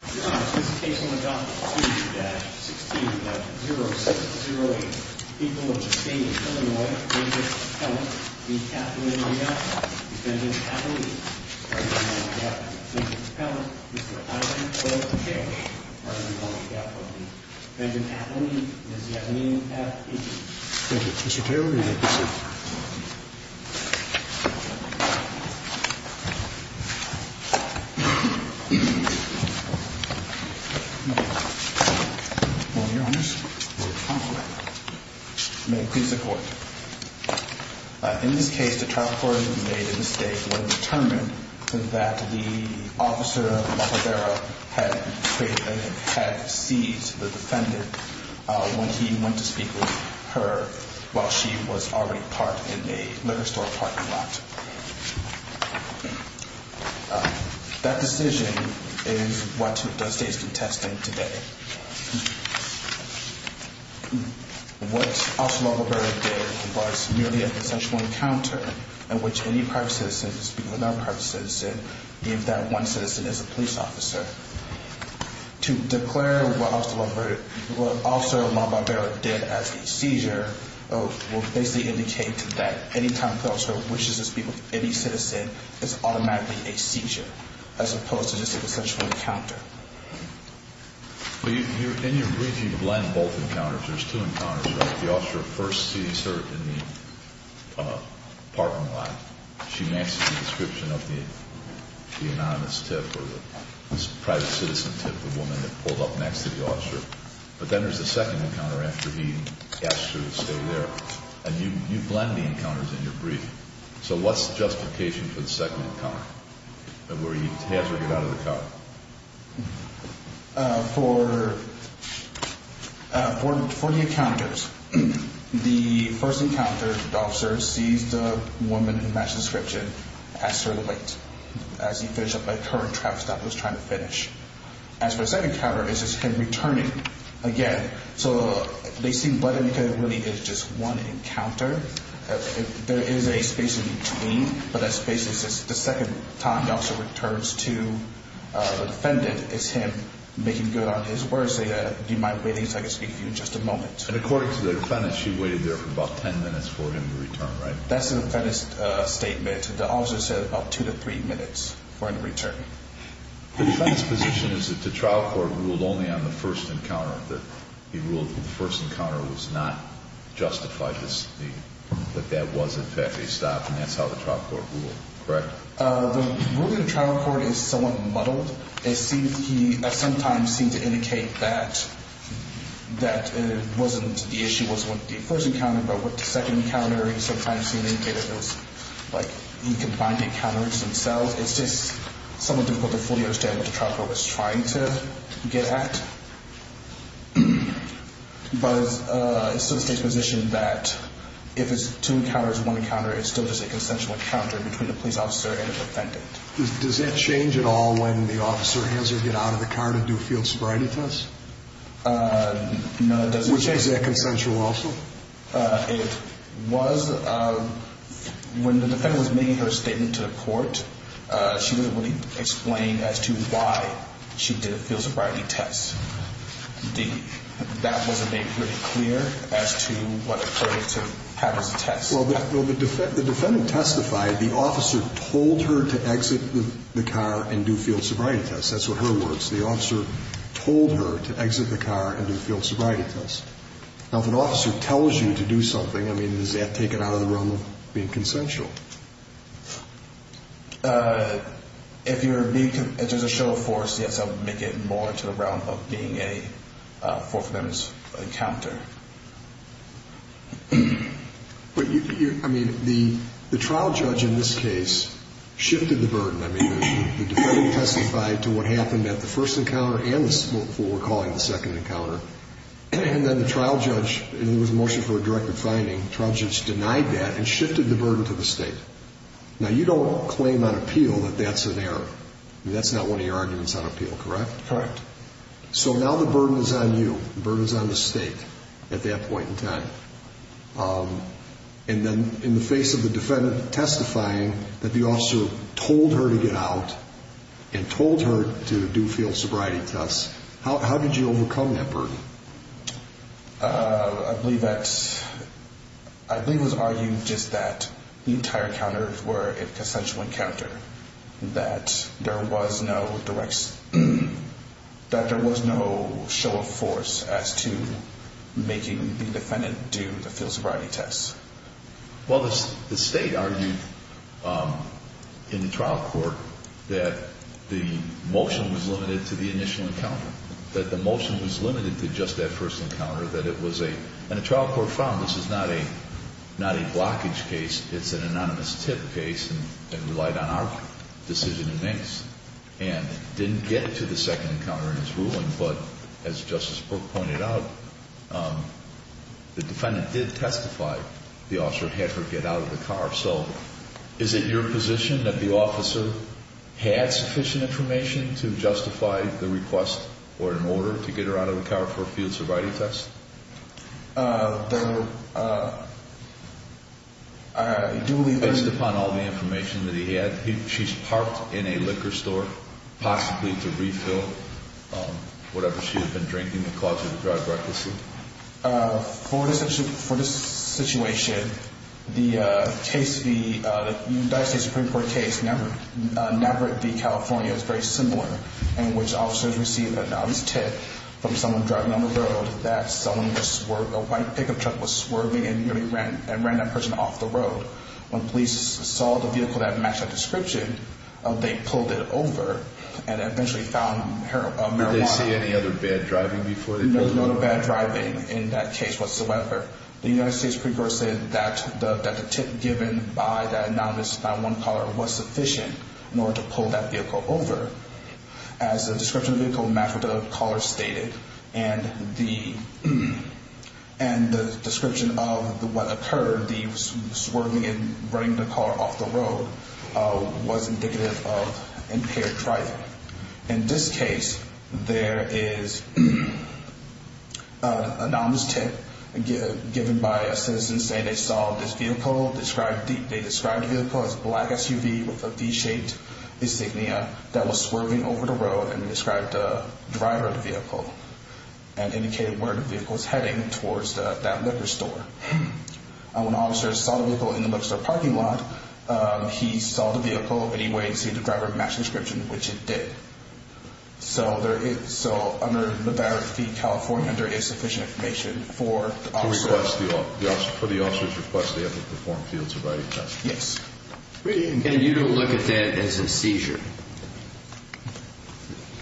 the people. In this case, the trial court made a mistake when it was determined that the officer, Malavera, had seized the defendant when he went to speak with her while she was already parked in a liquor store parking lot. That decision is what the state is contesting today. What Officer Malavera did was merely a consensual encounter in which any private citizen who was speaking with another private citizen gave that one citizen as a police officer. To declare what Officer Malavera did as a seizure will basically indicate that any time the officer wishes to speak with any citizen is automatically a seizure as opposed to just a consensual encounter. In your brief, you blend both encounters. There's two encounters, right? The officer first sees her in the parking lot. She matches the description of the anonymous tip or the private citizen tip, the woman that pulled up next to the officer. But then there's a second encounter after he asks her to stay there. And you blend the encounters in your brief. So what's the justification for the second encounter, where he has her get out of the car? For the encounters, the first encounter, the officer sees the woman who matched the description ask her to wait as he finished up by the current traffic stop he was trying to finish. As for the second encounter, it's just him returning again. So they seem blended because it really is just one encounter. There is a space in between, but that space is just the second time the officer returns to the defendant. It's him making good on his word, saying, do you mind waiting so I can speak to you in just a moment. And according to the defendant, she waited there for about 10 minutes for him to return, right? That's the defendant's statement. The officer said about two to three minutes for him to return. The defendant's position is that the trial court ruled only on the first encounter. He ruled that the first encounter was not justified. That that was, in fact, a stop. And that's how the trial court ruled, correct? The ruling of the trial court is somewhat muddled. He sometimes seemed to indicate that it wasn't the issue was with the first encounter, but with the second encounter, he sometimes seemed to indicate that he combined the encounters himself. It's just somewhat difficult to fully understand what the trial court was trying to get at. But it still takes position that if it's two encounters, one encounter, it's still just a consensual encounter between the police officer and the defendant. Does that change at all when the officer has to get out of the car to do a field sobriety test? No, it doesn't change. Which is that consensual also? It was when the defendant was making her statement to the court, she didn't really explain as to why she did a field sobriety test. That wasn't made pretty clear as to what occurred to have as a test. Well, the defendant testified the officer told her to exit the car and do field sobriety tests. That's what her words. The officer told her to exit the car and do field sobriety tests. Now, if an officer tells you to do something, I mean, is that taken out of the realm of being consensual? If you're being, if there's a show of force, yes, I would make it more into the realm of being a forfeited encounter. But you, I mean, the trial judge in this case shifted the burden. I mean, the defendant testified to what happened at the first encounter and what we're calling the second encounter. And then the trial judge, and it was a motion for a directive finding, trial judge denied that and shifted the burden to the state. Now, you don't claim on appeal that that's an error. I mean, that's not one of your arguments on appeal, correct? Correct. So now the burden is on you. The burden is on the state at that point in time. And then in the face of the defendant testifying that the officer told her to get out and told her to do field sobriety tests, how did you overcome that burden? I believe that, I believe it was argued just that the entire encounters were a consensual encounter, that there was no direct, that there was no show of force as to making the defendant do the field sobriety tests. Well, the state argued in the trial court that the motion was limited to the initial encounter, that the motion was limited to just that first encounter, that it was a, and the trial court found this is not a, not a blockage case. It's an anonymous tip case and relied on our decision in Minks and didn't get to the second encounter in his ruling. But as Justice Burke pointed out, the defendant did testify, the officer had her get out of the car. So is it your position that the officer had sufficient information to justify the request or an order to get her out of the car for a field sobriety test? Based upon all the information that he had, she's parked in a liquor store, possibly to refill whatever she had been drinking that caused her to drive recklessly? For this situation, the case, the United States Supreme Court case, Navarrete v. California is very similar in which officers received an anonymous tip from someone driving on the road that someone was, a white pickup truck was swerving and nearly ran that person off the road. When police saw the vehicle that matched that description, they pulled it over and eventually found marijuana. Did they see any other bad driving before they pulled it over? No, no bad driving in that case whatsoever. The United States Supreme Court said that the tip given by that anonymous 911 caller was sufficient in order to pull that vehicle over. As the description of the vehicle matched what the caller stated and the description of what occurred, the swerving and running the caller off the road, was indicative of impaired driving. In this case, there is an anonymous tip given by a citizen saying they saw this vehicle, they described the vehicle as a black SUV with a V-shaped insignia that was swerving over the road and described the driver of the vehicle and indicated where the vehicle was heading towards that liquor store. When officers saw the vehicle in the liquor store parking lot, he saw the vehicle and saw the driver match the description, which it did. So, under the California, there is sufficient information for the officer. For the officer's request, they have to perform a field sobriety test. Yes. And you don't look at that as a seizure.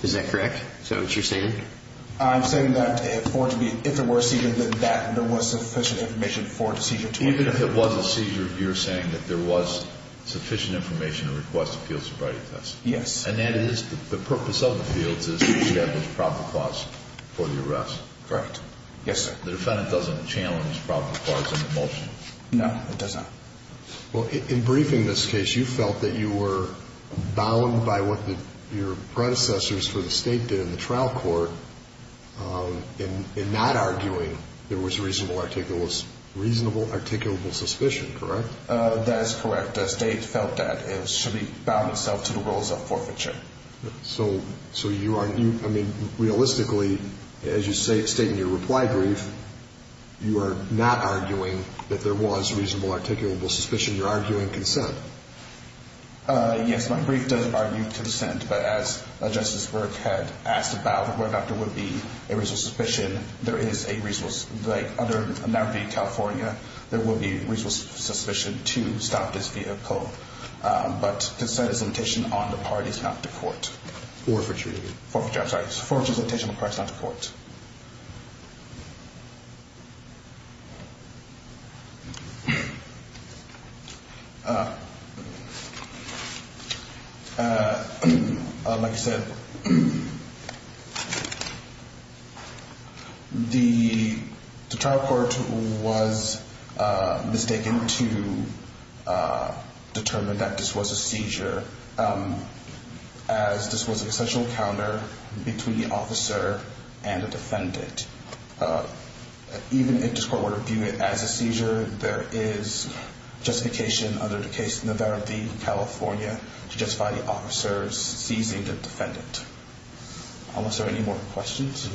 Is that correct? Is that what you're saying? I'm saying that if there were a seizure, then there was sufficient information for a seizure. Even if it was a seizure, you're saying that there was sufficient information to request a field sobriety test? Yes. And that is the purpose of the field is to establish proper cause for the arrest? Correct. Yes, sir. The defendant doesn't challenge proper cause in the motion? No, it does not. Well, in briefing this case, you felt that you were bound by what your predecessors for the state did in the trial court in not arguing there was reasonable articulable suspicion, correct? That is correct. The state felt that it should be bound itself to the rules of forfeiture. So, you argue, I mean, realistically, as you state in your reply brief, you are not arguing that there was reasonable articulable suspicion. You're arguing consent. Yes, my brief does argue consent. But as Justice Burke had asked about whether or not there would be a reasonable suspicion, there is a reasonable, like other, not only in California, there would be a reasonable suspicion to stop this vehicle. But consent is a limitation on the parties, not the court. Forfeiture. Forfeiture, I'm sorry. Yes, sir. The trial court was mistaken to determine that this was a seizure, as this was an essential encounter between the officer and the defendant. Even if this court were to view it as a seizure, there is justification under the case of Navarrete, California, to justify the officer's seizing the defendant. Are there any more questions? No.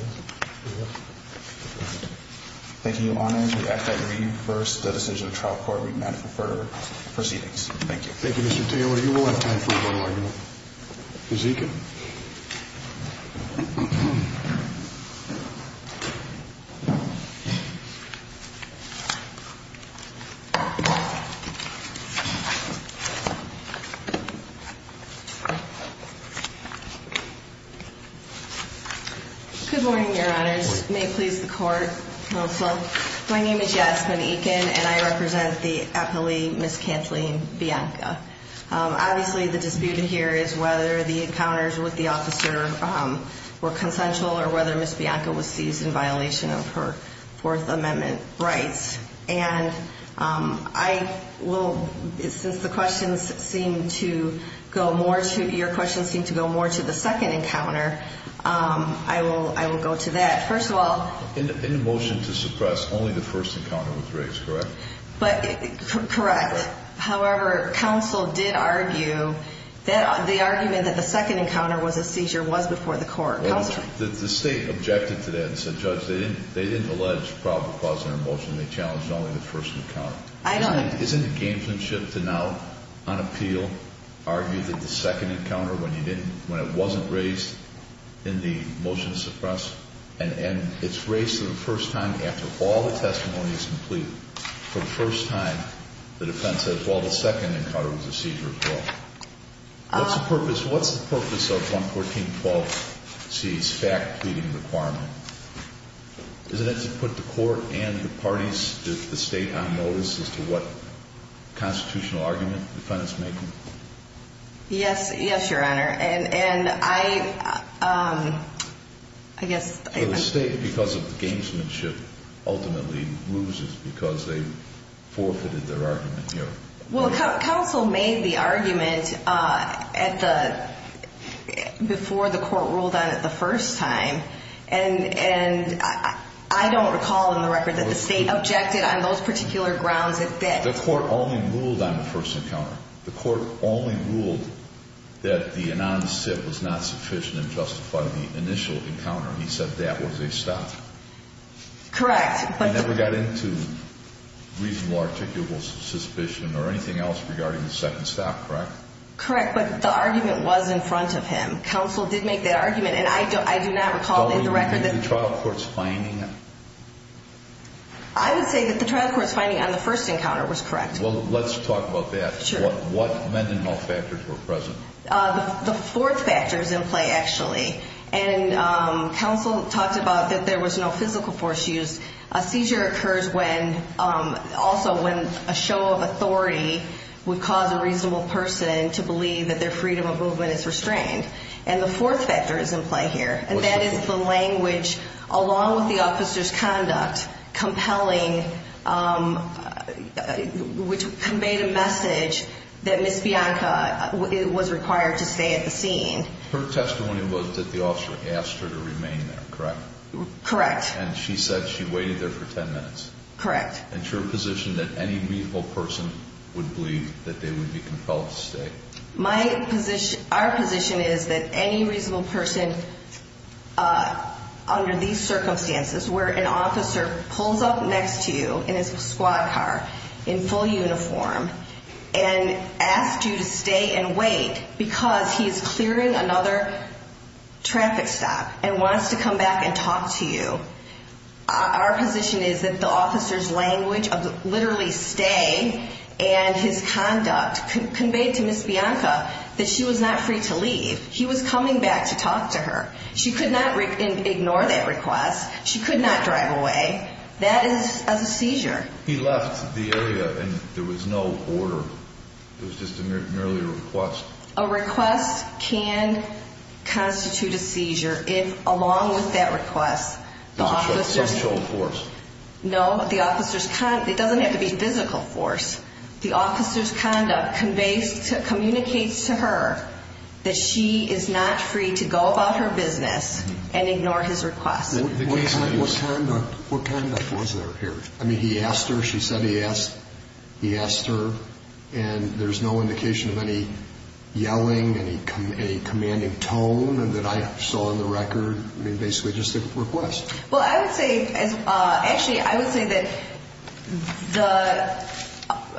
Thank you, Your Honor. We ask that you reverse the decision of the trial court. We demand further proceedings. Thank you. Thank you, Mr. Taylor. You will have time for a further argument. Ms. Ekin. Good morning, Your Honors. May it please the Court also. My name is Yasmin Ekin, and I represent the appellee, Ms. Kathleen Bianca. Obviously, the dispute here is whether the encounters with the officer were consensual or whether Ms. Bianca was seized in violation of her Fourth Amendment rights. And I will, since the questions seem to go more to, your questions seem to go more to the second encounter, I will go to that. First of all. In the motion to suppress, only the first encounter was raised, correct? Correct. However, counsel did argue that the argument that the second encounter was a seizure was before the court. Counsel? The State objected to that and said, Judge, they didn't allege probable cause in our motion. They challenged only the first encounter. I don't agree. Isn't it gamesmanship to now, on appeal, argue that the second encounter, when it wasn't raised in the motion to suppress, and it's raised for the first time after all the testimony is complete, for the first time, the defense says, well, the second encounter was a seizure as well. What's the purpose of 114.12C's fact-pleading requirement? Isn't it to put the court and the parties, the State, on notice as to what constitutional argument the defendant's making? Yes, Your Honor. The State, because of the gamesmanship, ultimately loses because they forfeited their argument here. Well, counsel made the argument before the court ruled on it the first time, and I don't recall in the record that the State objected on those particular grounds. The court only ruled on the first encounter. The court only ruled that the anonymous sit was not sufficient in justifying the initial encounter. He said that was a stop. Correct. He never got into reasonable articulable suspicion or anything else regarding the second stop, correct? Correct, but the argument was in front of him. Counsel did make that argument, and I do not recall in the record that the trial court's finding on the first encounter was correct. Well, let's talk about that. Sure. What men and male factors were present? The fourth factor is in play, actually, and counsel talked about that there was no physical force used. A seizure occurs also when a show of authority would cause a reasonable person to believe that their freedom of movement is restrained, and the fourth factor is in play here, and that is the language, along with the officer's conduct, compelling, which conveyed a message that Ms. Bianca was required to stay at the scene. Her testimony was that the officer asked her to remain there, correct? Correct. And she said she waited there for 10 minutes. Correct. Is your position that any reasonable person would believe that they would be compelled to stay? Our position is that any reasonable person, under these circumstances, where an officer pulls up next to you in his squad car in full uniform and asks you to stay and wait because he is clearing another traffic stop and wants to come back and talk to you, our position is that the officer's language of literally stay and his conduct conveyed to Ms. Bianca that she was not free to leave. He was coming back to talk to her. She could not ignore that request. She could not drive away. That is a seizure. He left the area and there was no order. It was just merely a request. A request can constitute a seizure if, along with that request, the officer's... Social force. No, the officer's conduct. It doesn't have to be physical force. The officer's conduct communicates to her that she is not free to go about her business and ignore his request. What conduct was there here? I mean, he asked her, she said he asked her, and there's no indication of any yelling, any commanding tone that I saw on the record, basically just a request. Well, I would say, actually, I would say that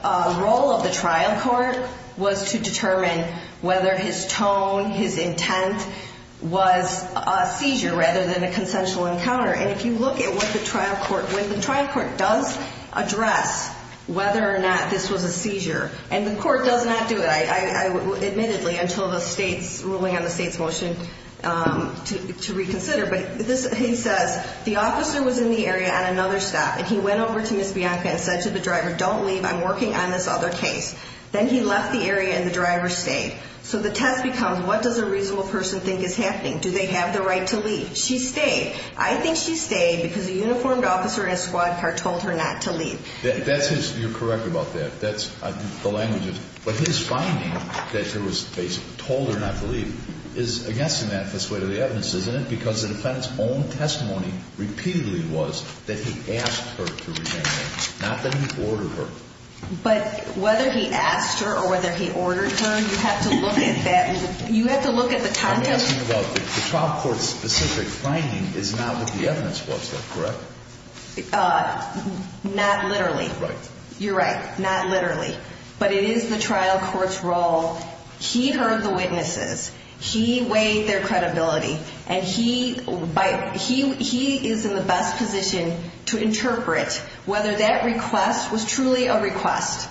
the role of the trial court was to determine whether his tone, his intent was a seizure rather than a consensual encounter. And if you look at what the trial court, when the trial court does address whether or not this was a seizure, and the court does not do it, admittedly, until the state's ruling on the state's motion to reconsider, but he says the officer was in the area on another stop and he went over to Ms. Bianca and said to the driver, don't leave, I'm working on this other case. Then he left the area and the driver stayed. So the test becomes what does a reasonable person think is happening? Do they have the right to leave? She stayed. I think she stayed because a uniformed officer in a squad car told her not to leave. That's his, you're correct about that. That's the language. But his finding that she was basically told her not to leave is against the manifest way of the evidence, isn't it? Because the defendant's own testimony repeatedly was that he asked her to remain there, not that he ordered her. But whether he asked her or whether he ordered her, you have to look at that. You have to look at the context. The trial court's specific finding is not what the evidence was, correct? Not literally. You're right. Not literally. But it is the trial court's role. He heard the witnesses. He weighed their credibility. And he is in the best position to interpret whether that request was truly a request.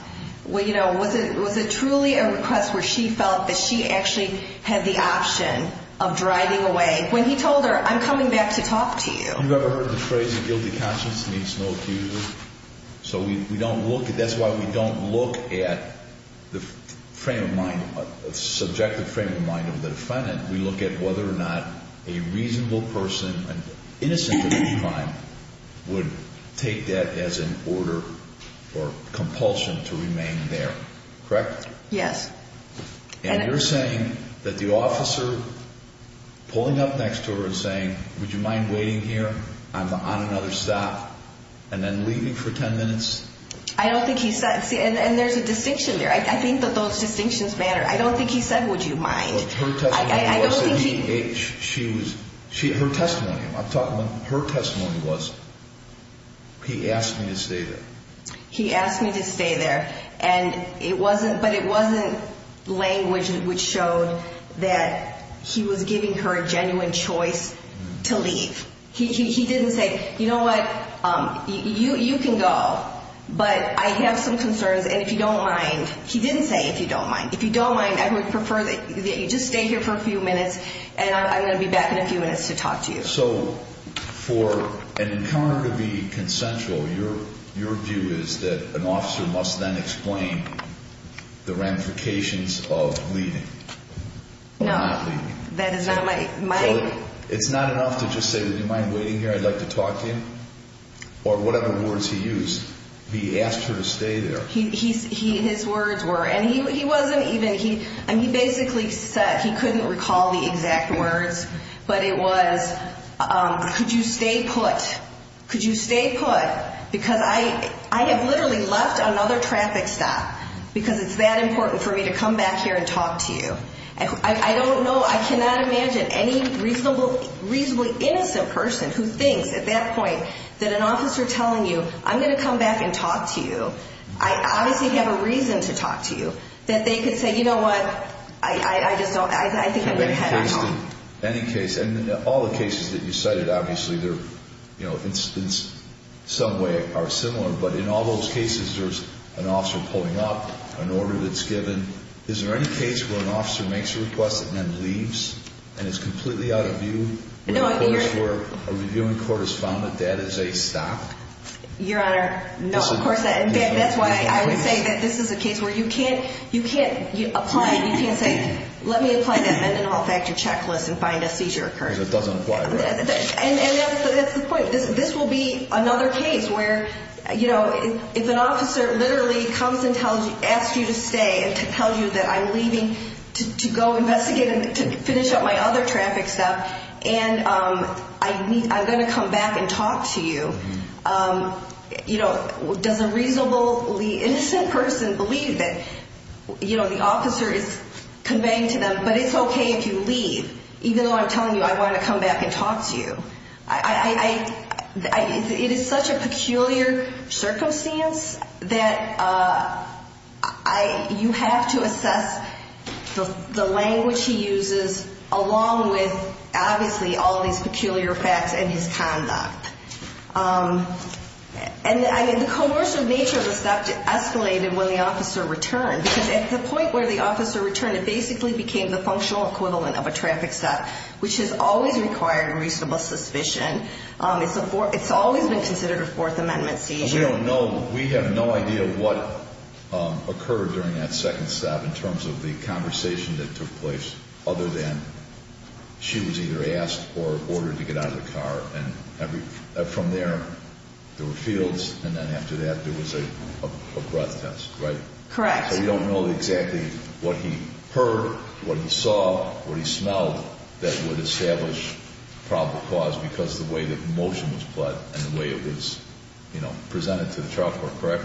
Was it truly a request where she felt that she actually had the option of driving away when he told her, I'm coming back to talk to you? Have you ever heard the phrase a guilty conscience means no accuser? So we don't look, that's why we don't look at the frame of mind, subjective frame of mind of the defendant. We look at whether or not a reasonable person, innocent of a crime, would take that as an order or compulsion to remain there, correct? Yes. And you're saying that the officer pulling up next to her and saying, would you mind waiting here? I'm on another stop. And then leaving for 10 minutes? I don't think he said. And there's a distinction there. I think that those distinctions matter. I don't think he said, would you mind. I don't think he. Her testimony, I'm talking about her testimony was, he asked me to stay there. He asked me to stay there. And it wasn't, but it wasn't language which showed that he was giving her a genuine choice to leave. He didn't say, you know what, you can go, but I have some concerns, and if you don't mind. He didn't say, if you don't mind. If you don't mind, I would prefer that you just stay here for a few minutes, and I'm going to be back in a few minutes to talk to you. So for an encounter to be consensual, your view is that an officer must then explain the ramifications of leaving. No, that is not my. It's not enough to just say, would you mind waiting here? I'd like to talk to him. Or whatever words he used. He asked her to stay there. His words were, and he wasn't even, he basically said, he couldn't recall the exact words, but it was, could you stay put? Could you stay put? Because I have literally left another traffic stop because it's that important for me to come back here and talk to you. I don't know, I cannot imagine any reasonably innocent person who thinks at that point that an officer telling you, I'm going to come back and talk to you, I obviously have a reason to talk to you, that they could say, you know what, I just don't, I think I'm going to head home. Any case, and all the cases that you cited, obviously they're, you know, in some way are similar, but in all those cases there's an officer pulling up, an order that's given, is there any case where an officer makes a request and then leaves? And is completely out of view? Where a reviewing court has found that that is a stop? Your Honor, no, of course not. That's why I would say that this is a case where you can't, you can't apply, you can't say, let me apply that Mendenhall Factor checklist and find a seizure occurring. Because it doesn't apply right. And that's the point. This will be another case where, you know, if an officer literally comes and tells you, asks you to stay and tells you that I'm leaving to go investigate and finish up my other traffic stuff, and I'm going to come back and talk to you, you know, does a reasonably innocent person believe that, you know, the officer is conveying to them, but it's okay if you leave, even though I'm telling you I want to come back and talk to you. I, it is such a peculiar circumstance that I, you have to assess the language he uses along with obviously all these peculiar facts and his conduct. And, I mean, the coercive nature of the stop escalated when the officer returned. Because at the point where the officer returned, it basically became the functional equivalent of a traffic stop, which is always required in reasonable suspicion. It's always been considered a Fourth Amendment seizure. Because we don't know, we have no idea what occurred during that second stop in terms of the conversation that took place, other than she was either asked or ordered to get out of the car. And from there, there were fields, and then after that, there was a breath test, right? Correct. So we don't know exactly what he heard, what he saw, what he smelled that would establish probable cause because the way the motion was put and the way it was, you know, presented to the trial court, correct?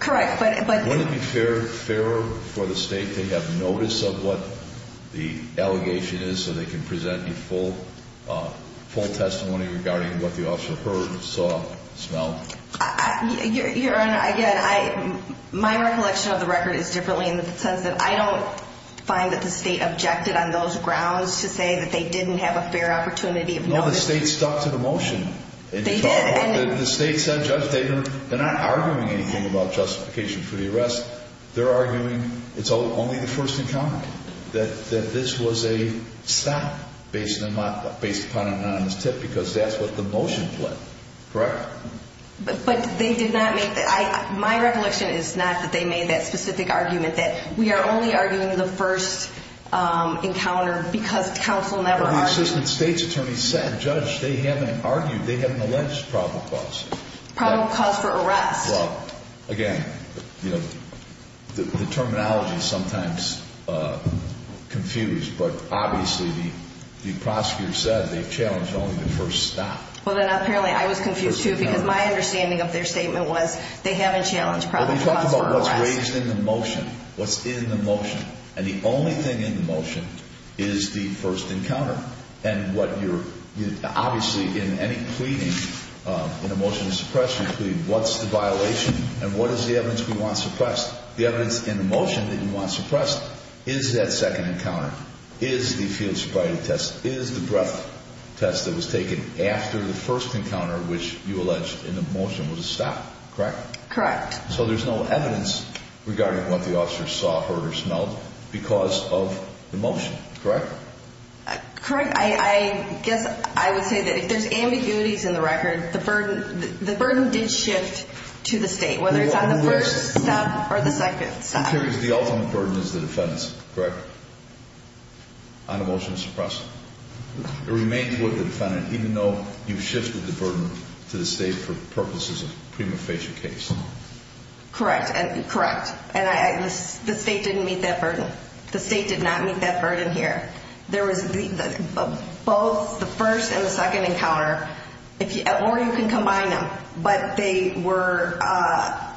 Correct, but Wouldn't it be fairer for the state to have notice of what the allegation is so they can present you full testimony regarding what the officer heard, saw, smelled? Your Honor, again, my recollection of the record is differently in the sense that I don't find that the state objected on those grounds to say that they didn't have a fair opportunity of notice. No, the state stuck to the motion. They did, and The state said, Judge, they're not arguing anything about justification for the arrest. They're arguing it's only the first encounter, that this was a stop based upon an anonymous tip because that's what the motion said, correct? But they did not make that, my recollection is not that they made that specific argument, that we are only arguing the first encounter because counsel never argued. The assistant state's attorney said, Judge, they haven't argued, they haven't alleged probable cause. Probable cause for arrest. Well, again, you know, the terminology is sometimes confused, but obviously the prosecutor said they challenged only the first stop. Well, then apparently I was confused, too, because my understanding of their statement was they haven't challenged probable cause for arrest. Well, we talked about what's raised in the motion, what's in the motion, and the only thing in the motion is the first encounter. And what you're, obviously in any pleading, in a motion to suppress, you plead, what's the violation and what is the evidence we want suppressed? The evidence in the motion that you want suppressed is that second encounter, is the field sobriety test, is the breath test that was taken after the first encounter, which you alleged in the motion was a stop, correct? Correct. So there's no evidence regarding what the officers saw, heard, or smelled because of the motion, correct? Correct. I guess I would say that if there's ambiguities in the record, the burden did shift to the state, whether it's on the first stop or the second stop. I'm curious, the ultimate burden is the defendant's, correct? On a motion to suppress. It remains with the defendant, even though you've shifted the burden to the state for purposes of prima facie case. Correct. And the state didn't meet that burden. The state did not meet that burden here. There was both the first and the second encounter, or you can combine them, but they were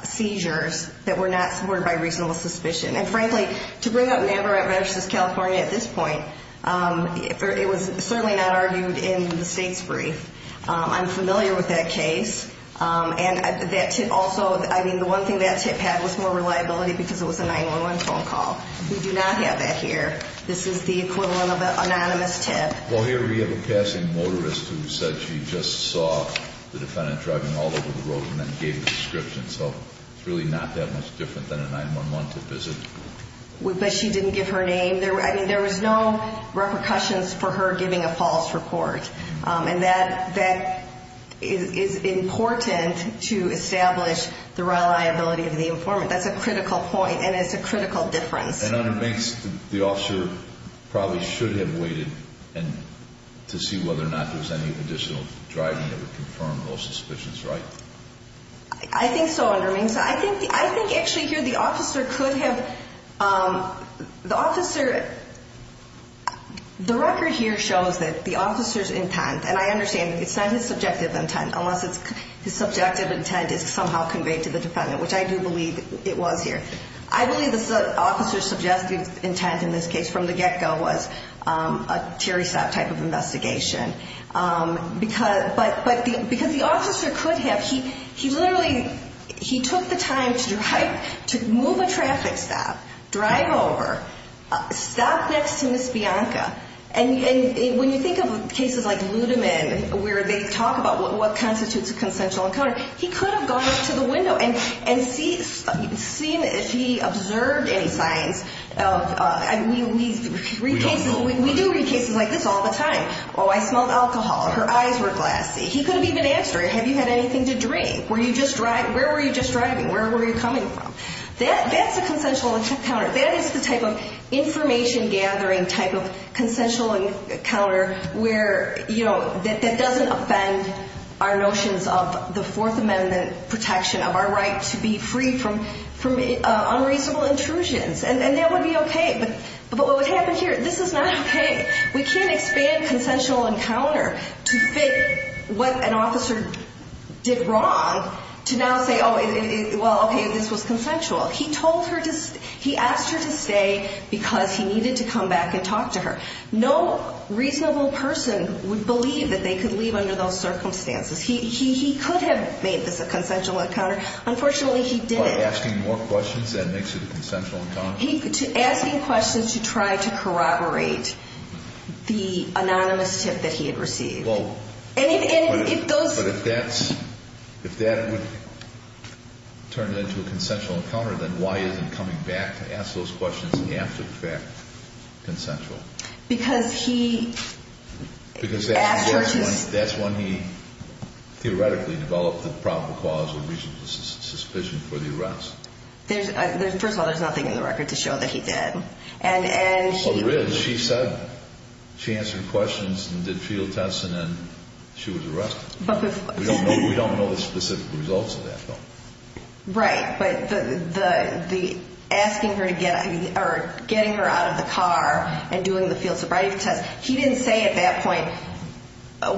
seizures that were not supported by reasonable suspicion. And frankly, to bring up Navarrete versus California at this point, it was certainly not argued in the state's brief. I'm familiar with that case. And that tip also, I mean, the one thing that tip had was more reliability because it was a 911 phone call. We do not have that here. This is the equivalent of an anonymous tip. Well, here we have a passing motorist who said she just saw the defendant driving all over the road and then gave a description. So it's really not that much different than a 911 tip, is it? But she didn't give her name. I mean, there was no repercussions for her giving a false report. And that is important to establish the reliability of the informant. That's a critical point, and it's a critical difference. And under Minks, the officer probably should have waited to see whether or not there was any additional driving that would confirm all suspicions, right? I think so, under Minks. I think actually here the officer could have, the officer, the record here shows that the officer's intent, and I understand it's not his subjective intent unless his subjective intent is somehow conveyed to the defendant, which I do believe it was here. I believe the officer's subjective intent in this case from the get-go was a Terry Stott type of investigation. But because the officer could have, he literally, he took the time to drive, to move a traffic stop, drive over, stop next to Ms. Bianca. And when you think of cases like Ludeman where they talk about what constitutes a consensual encounter, he could have gone up to the window and seen if he observed any signs. We read cases, we do read cases like this all the time. Oh, I smelled alcohol, her eyes were glassy. He could have even asked her, have you had anything to drink? Were you just driving? Where were you just driving? Where were you coming from? That's a consensual encounter. That is the type of information-gathering type of consensual encounter where, you know, that doesn't offend our notions of the Fourth Amendment protection of our right to be free from unreasonable intrusions. And that would be okay. But what would happen here, this is not okay. We can't expand consensual encounter to fit what an officer did wrong to now say, oh, well, okay, this was consensual. He told her to, he asked her to stay because he needed to come back and talk to her. No reasonable person would believe that they could leave under those circumstances. He could have made this a consensual encounter. Unfortunately, he didn't. By asking more questions, that makes it a consensual encounter? Asking questions to try to corroborate the anonymous tip that he had received. But if that's, if that would turn it into a consensual encounter, then why is he coming back to ask those questions after the fact, consensual? Because he asked her to- Because that's when he theoretically developed the proper cause of reasonable suspicion for the arrest. First of all, there's nothing in the record to show that he did. Oh, there is. She said, she answered questions and did field tests and then she was arrested. We don't know the specific results of that, though. Right. But the asking her to get, or getting her out of the car and doing the field sobriety test, he didn't say at that point,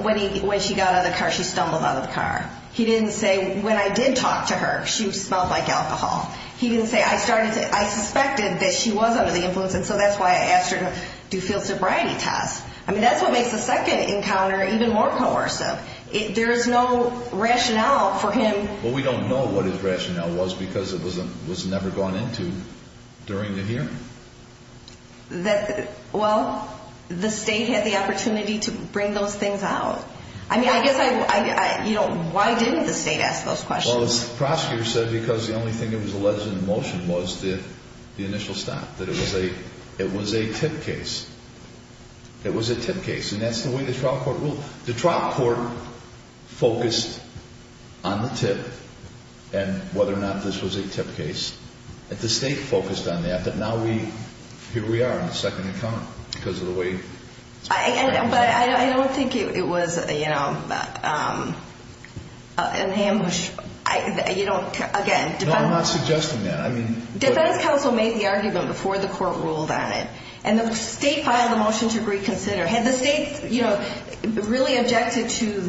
when she got out of the car, she stumbled out of the car. He didn't say, when I did talk to her, she smelled like alcohol. He didn't say, I started to, I suspected that she was under the influence, and so that's why I asked her to do field sobriety tests. I mean, that's what makes the second encounter even more coercive. There is no rationale for him- Well, we don't know what his rationale was because it was never gone into during the hearing. Well, the state had the opportunity to bring those things out. I mean, I guess I, you know, why didn't the state ask those questions? Well, the prosecutor said because the only thing that was alleged in the motion was the initial stop, that it was a tip case. It was a tip case, and that's the way the trial court ruled. The trial court focused on the tip and whether or not this was a tip case. The state focused on that, but now we, here we are in the second encounter because of the way- But I don't think it was, you know, an ambush. You don't, again- No, I'm not suggesting that. Defense counsel made the argument before the court ruled on it, and the state filed a motion to reconsider. Had the state, you know, really objected to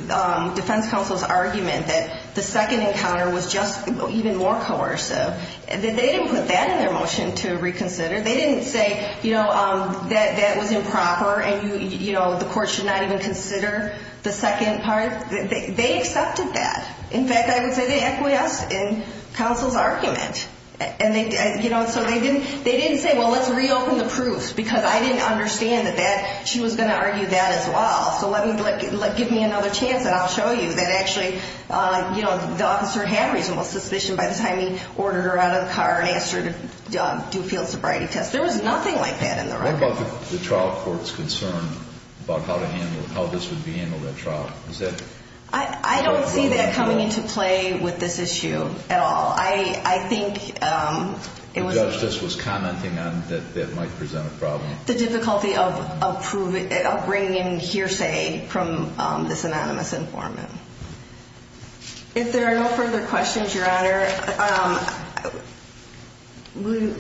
defense counsel's argument that the second encounter was just even more coercive, they didn't put that in their motion to reconsider. They didn't say, you know, that that was improper and, you know, the court should not even consider the second part. They accepted that. In fact, I would say they acquiesced in counsel's argument. And, you know, so they didn't say, well, let's reopen the proofs because I didn't understand that she was going to argue that as well, so give me another chance and I'll show you that actually, you know, the officer had reasonable suspicion by the time he ordered her out of the car and asked her to do a field sobriety test. There was nothing like that in the record. What about the trial court's concern about how to handle it, how this would be handled at trial? I don't see that coming into play with this issue at all. I think it was- The judge just was commenting on that that might present a problem. The difficulty of bringing in hearsay from this anonymous informant. If there are no further questions, Your Honor,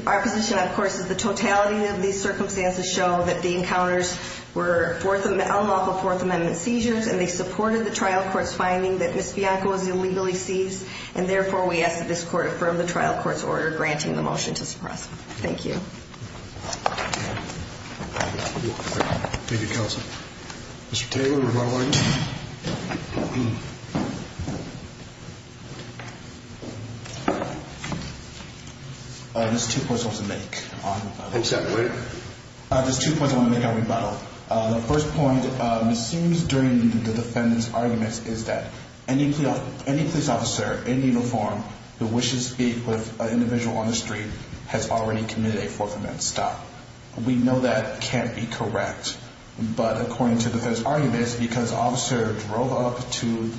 our position, of course, is the totality of these circumstances show that the encounters were unlawful Fourth Amendment seizures and they supported the trial court's finding that Ms. Bianco was illegally seized and, therefore, we ask that this court affirm the trial court's order granting the motion to suppress. Thank you. Thank you, Counsel. Mr. Taylor, rebuttal item. There's two points I want to make. Go ahead. There's two points I want to make on rebuttal. The first point, it seems during the defendant's argument is that any police officer in uniform who wishes to speak with an individual on the street has already committed a Fourth Amendment stop. We know that can't be correct, but according to the defendant's argument, because the officer drove up to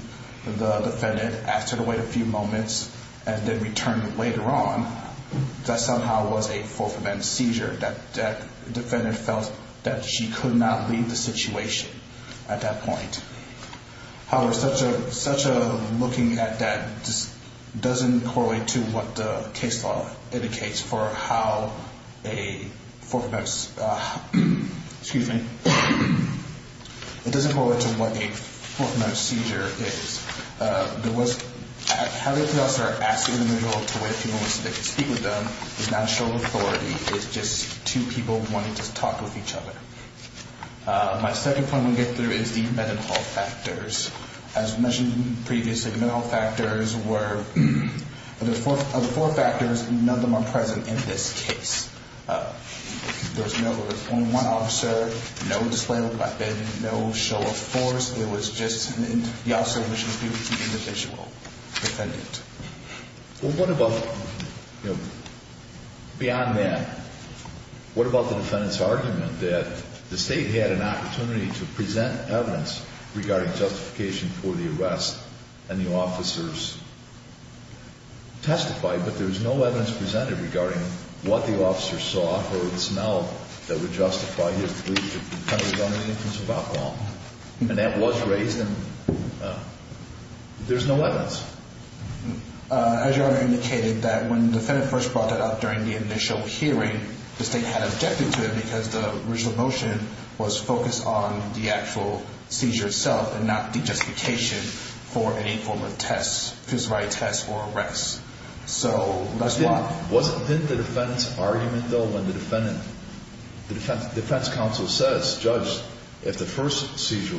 the defendant, asked her to wait a few moments, and then returned later on, that somehow was a Fourth Amendment seizure. That defendant felt that she could not leave the situation at that point. However, such a looking at that doesn't correlate to what the case law indicates for how a Fourth Amendment seizure is. How the officer asked the individual to wait a few moments to speak with them does not show authority. It's just two people wanting to talk with each other. My second point I want to get through is the medical factors. As mentioned previously, the medical factors were of the four factors, none of them are present in this case. There was only one officer, no display of a weapon, no show of force. The officer wishes to speak with the individual defendant. Beyond that, what about the defendant's argument that the state had an opportunity to present evidence regarding justification for the arrest, and the officers testified, but there was no evidence presented regarding what the officers saw or the smell that would justify his belief that the defendant was under the influence of alcohol. And that was raised, and there's no evidence. As Your Honor indicated, that when the defendant first brought that up during the initial hearing, the state had objected to it because the original motion was focused on the actual seizure itself and not the justification for any form of test, physicality test, or arrest. So that's why. Wasn't the defendant's argument, though, when the defense counsel says, Judge, if the first seizure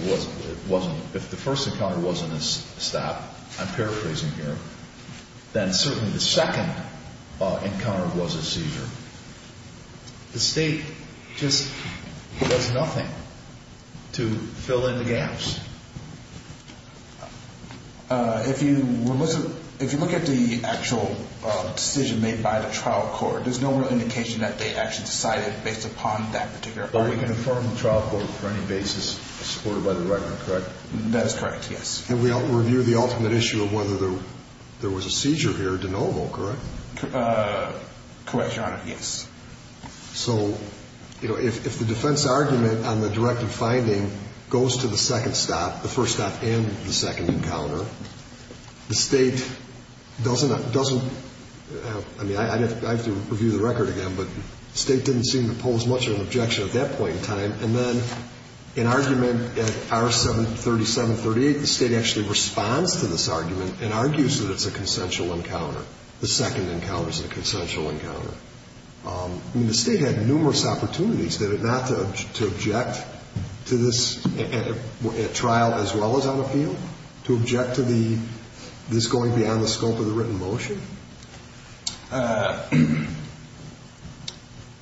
wasn't, if the first encounter wasn't a stab, I'm paraphrasing here, then certainly the second encounter was a seizure. The state just does nothing to fill in the gaps. If you look at the actual decision made by the trial court, there's no real indication that they actually decided based upon that particular argument. But we can affirm the trial court for any basis supported by the record, correct? That is correct, yes. And we review the ultimate issue of whether there was a seizure here de novo, correct? Correct, Your Honor, yes. So, you know, if the defense argument on the directive finding goes to the second stop, the first stop and the second encounter, the state doesn't, I mean, I'd have to review the record again, but the state didn't seem to pose much of an objection at that point in time. And then an argument at R-73738, the state actually responds to this argument and argues that it's a consensual encounter, the second encounter is a consensual encounter. I mean, the state had numerous opportunities, did it not, to object to this at trial as well as on appeal, to object to this going beyond the scope of the written motion?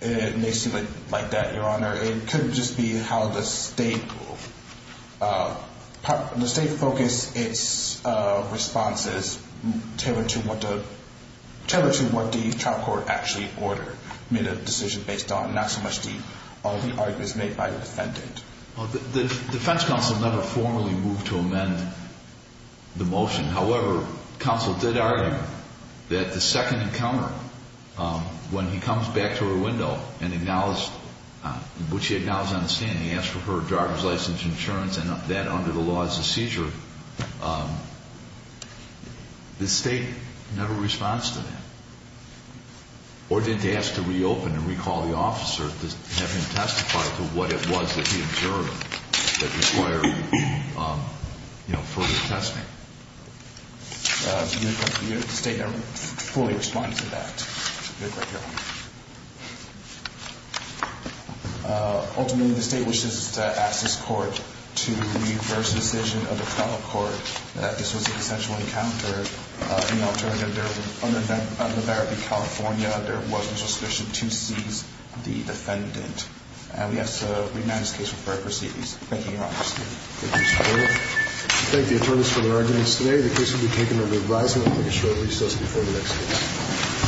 It may seem like that, Your Honor. It could just be how the state focused its responses tailored to what the trial court actually ordered, made a decision based on not so much the arguments made by the defendant. The defense counsel never formally moved to amend the motion. However, counsel did argue that the second encounter, when he comes back to her window and acknowledged what she acknowledged on the stand, he asked for her driver's license, insurance, and that under the law is a seizure, the state never responds to that or didn't ask to reopen and recall the officer to have him testify to what it was that he observed that required further testing. The state never fully responded to that, Your Honor. Ultimately, the state wishes to ask this court to reverse the decision of the trial court that this was a consensual encounter. In alternative, under Verity, California, there was no suspicion to seize the defendant. And we ask that this case be referred to proceedings. Thank you, Your Honor. Thank you, Mr. Gould. I thank the attorneys for their arguments today. The case will be taken under revising. I'm going to make a short recess before the next case.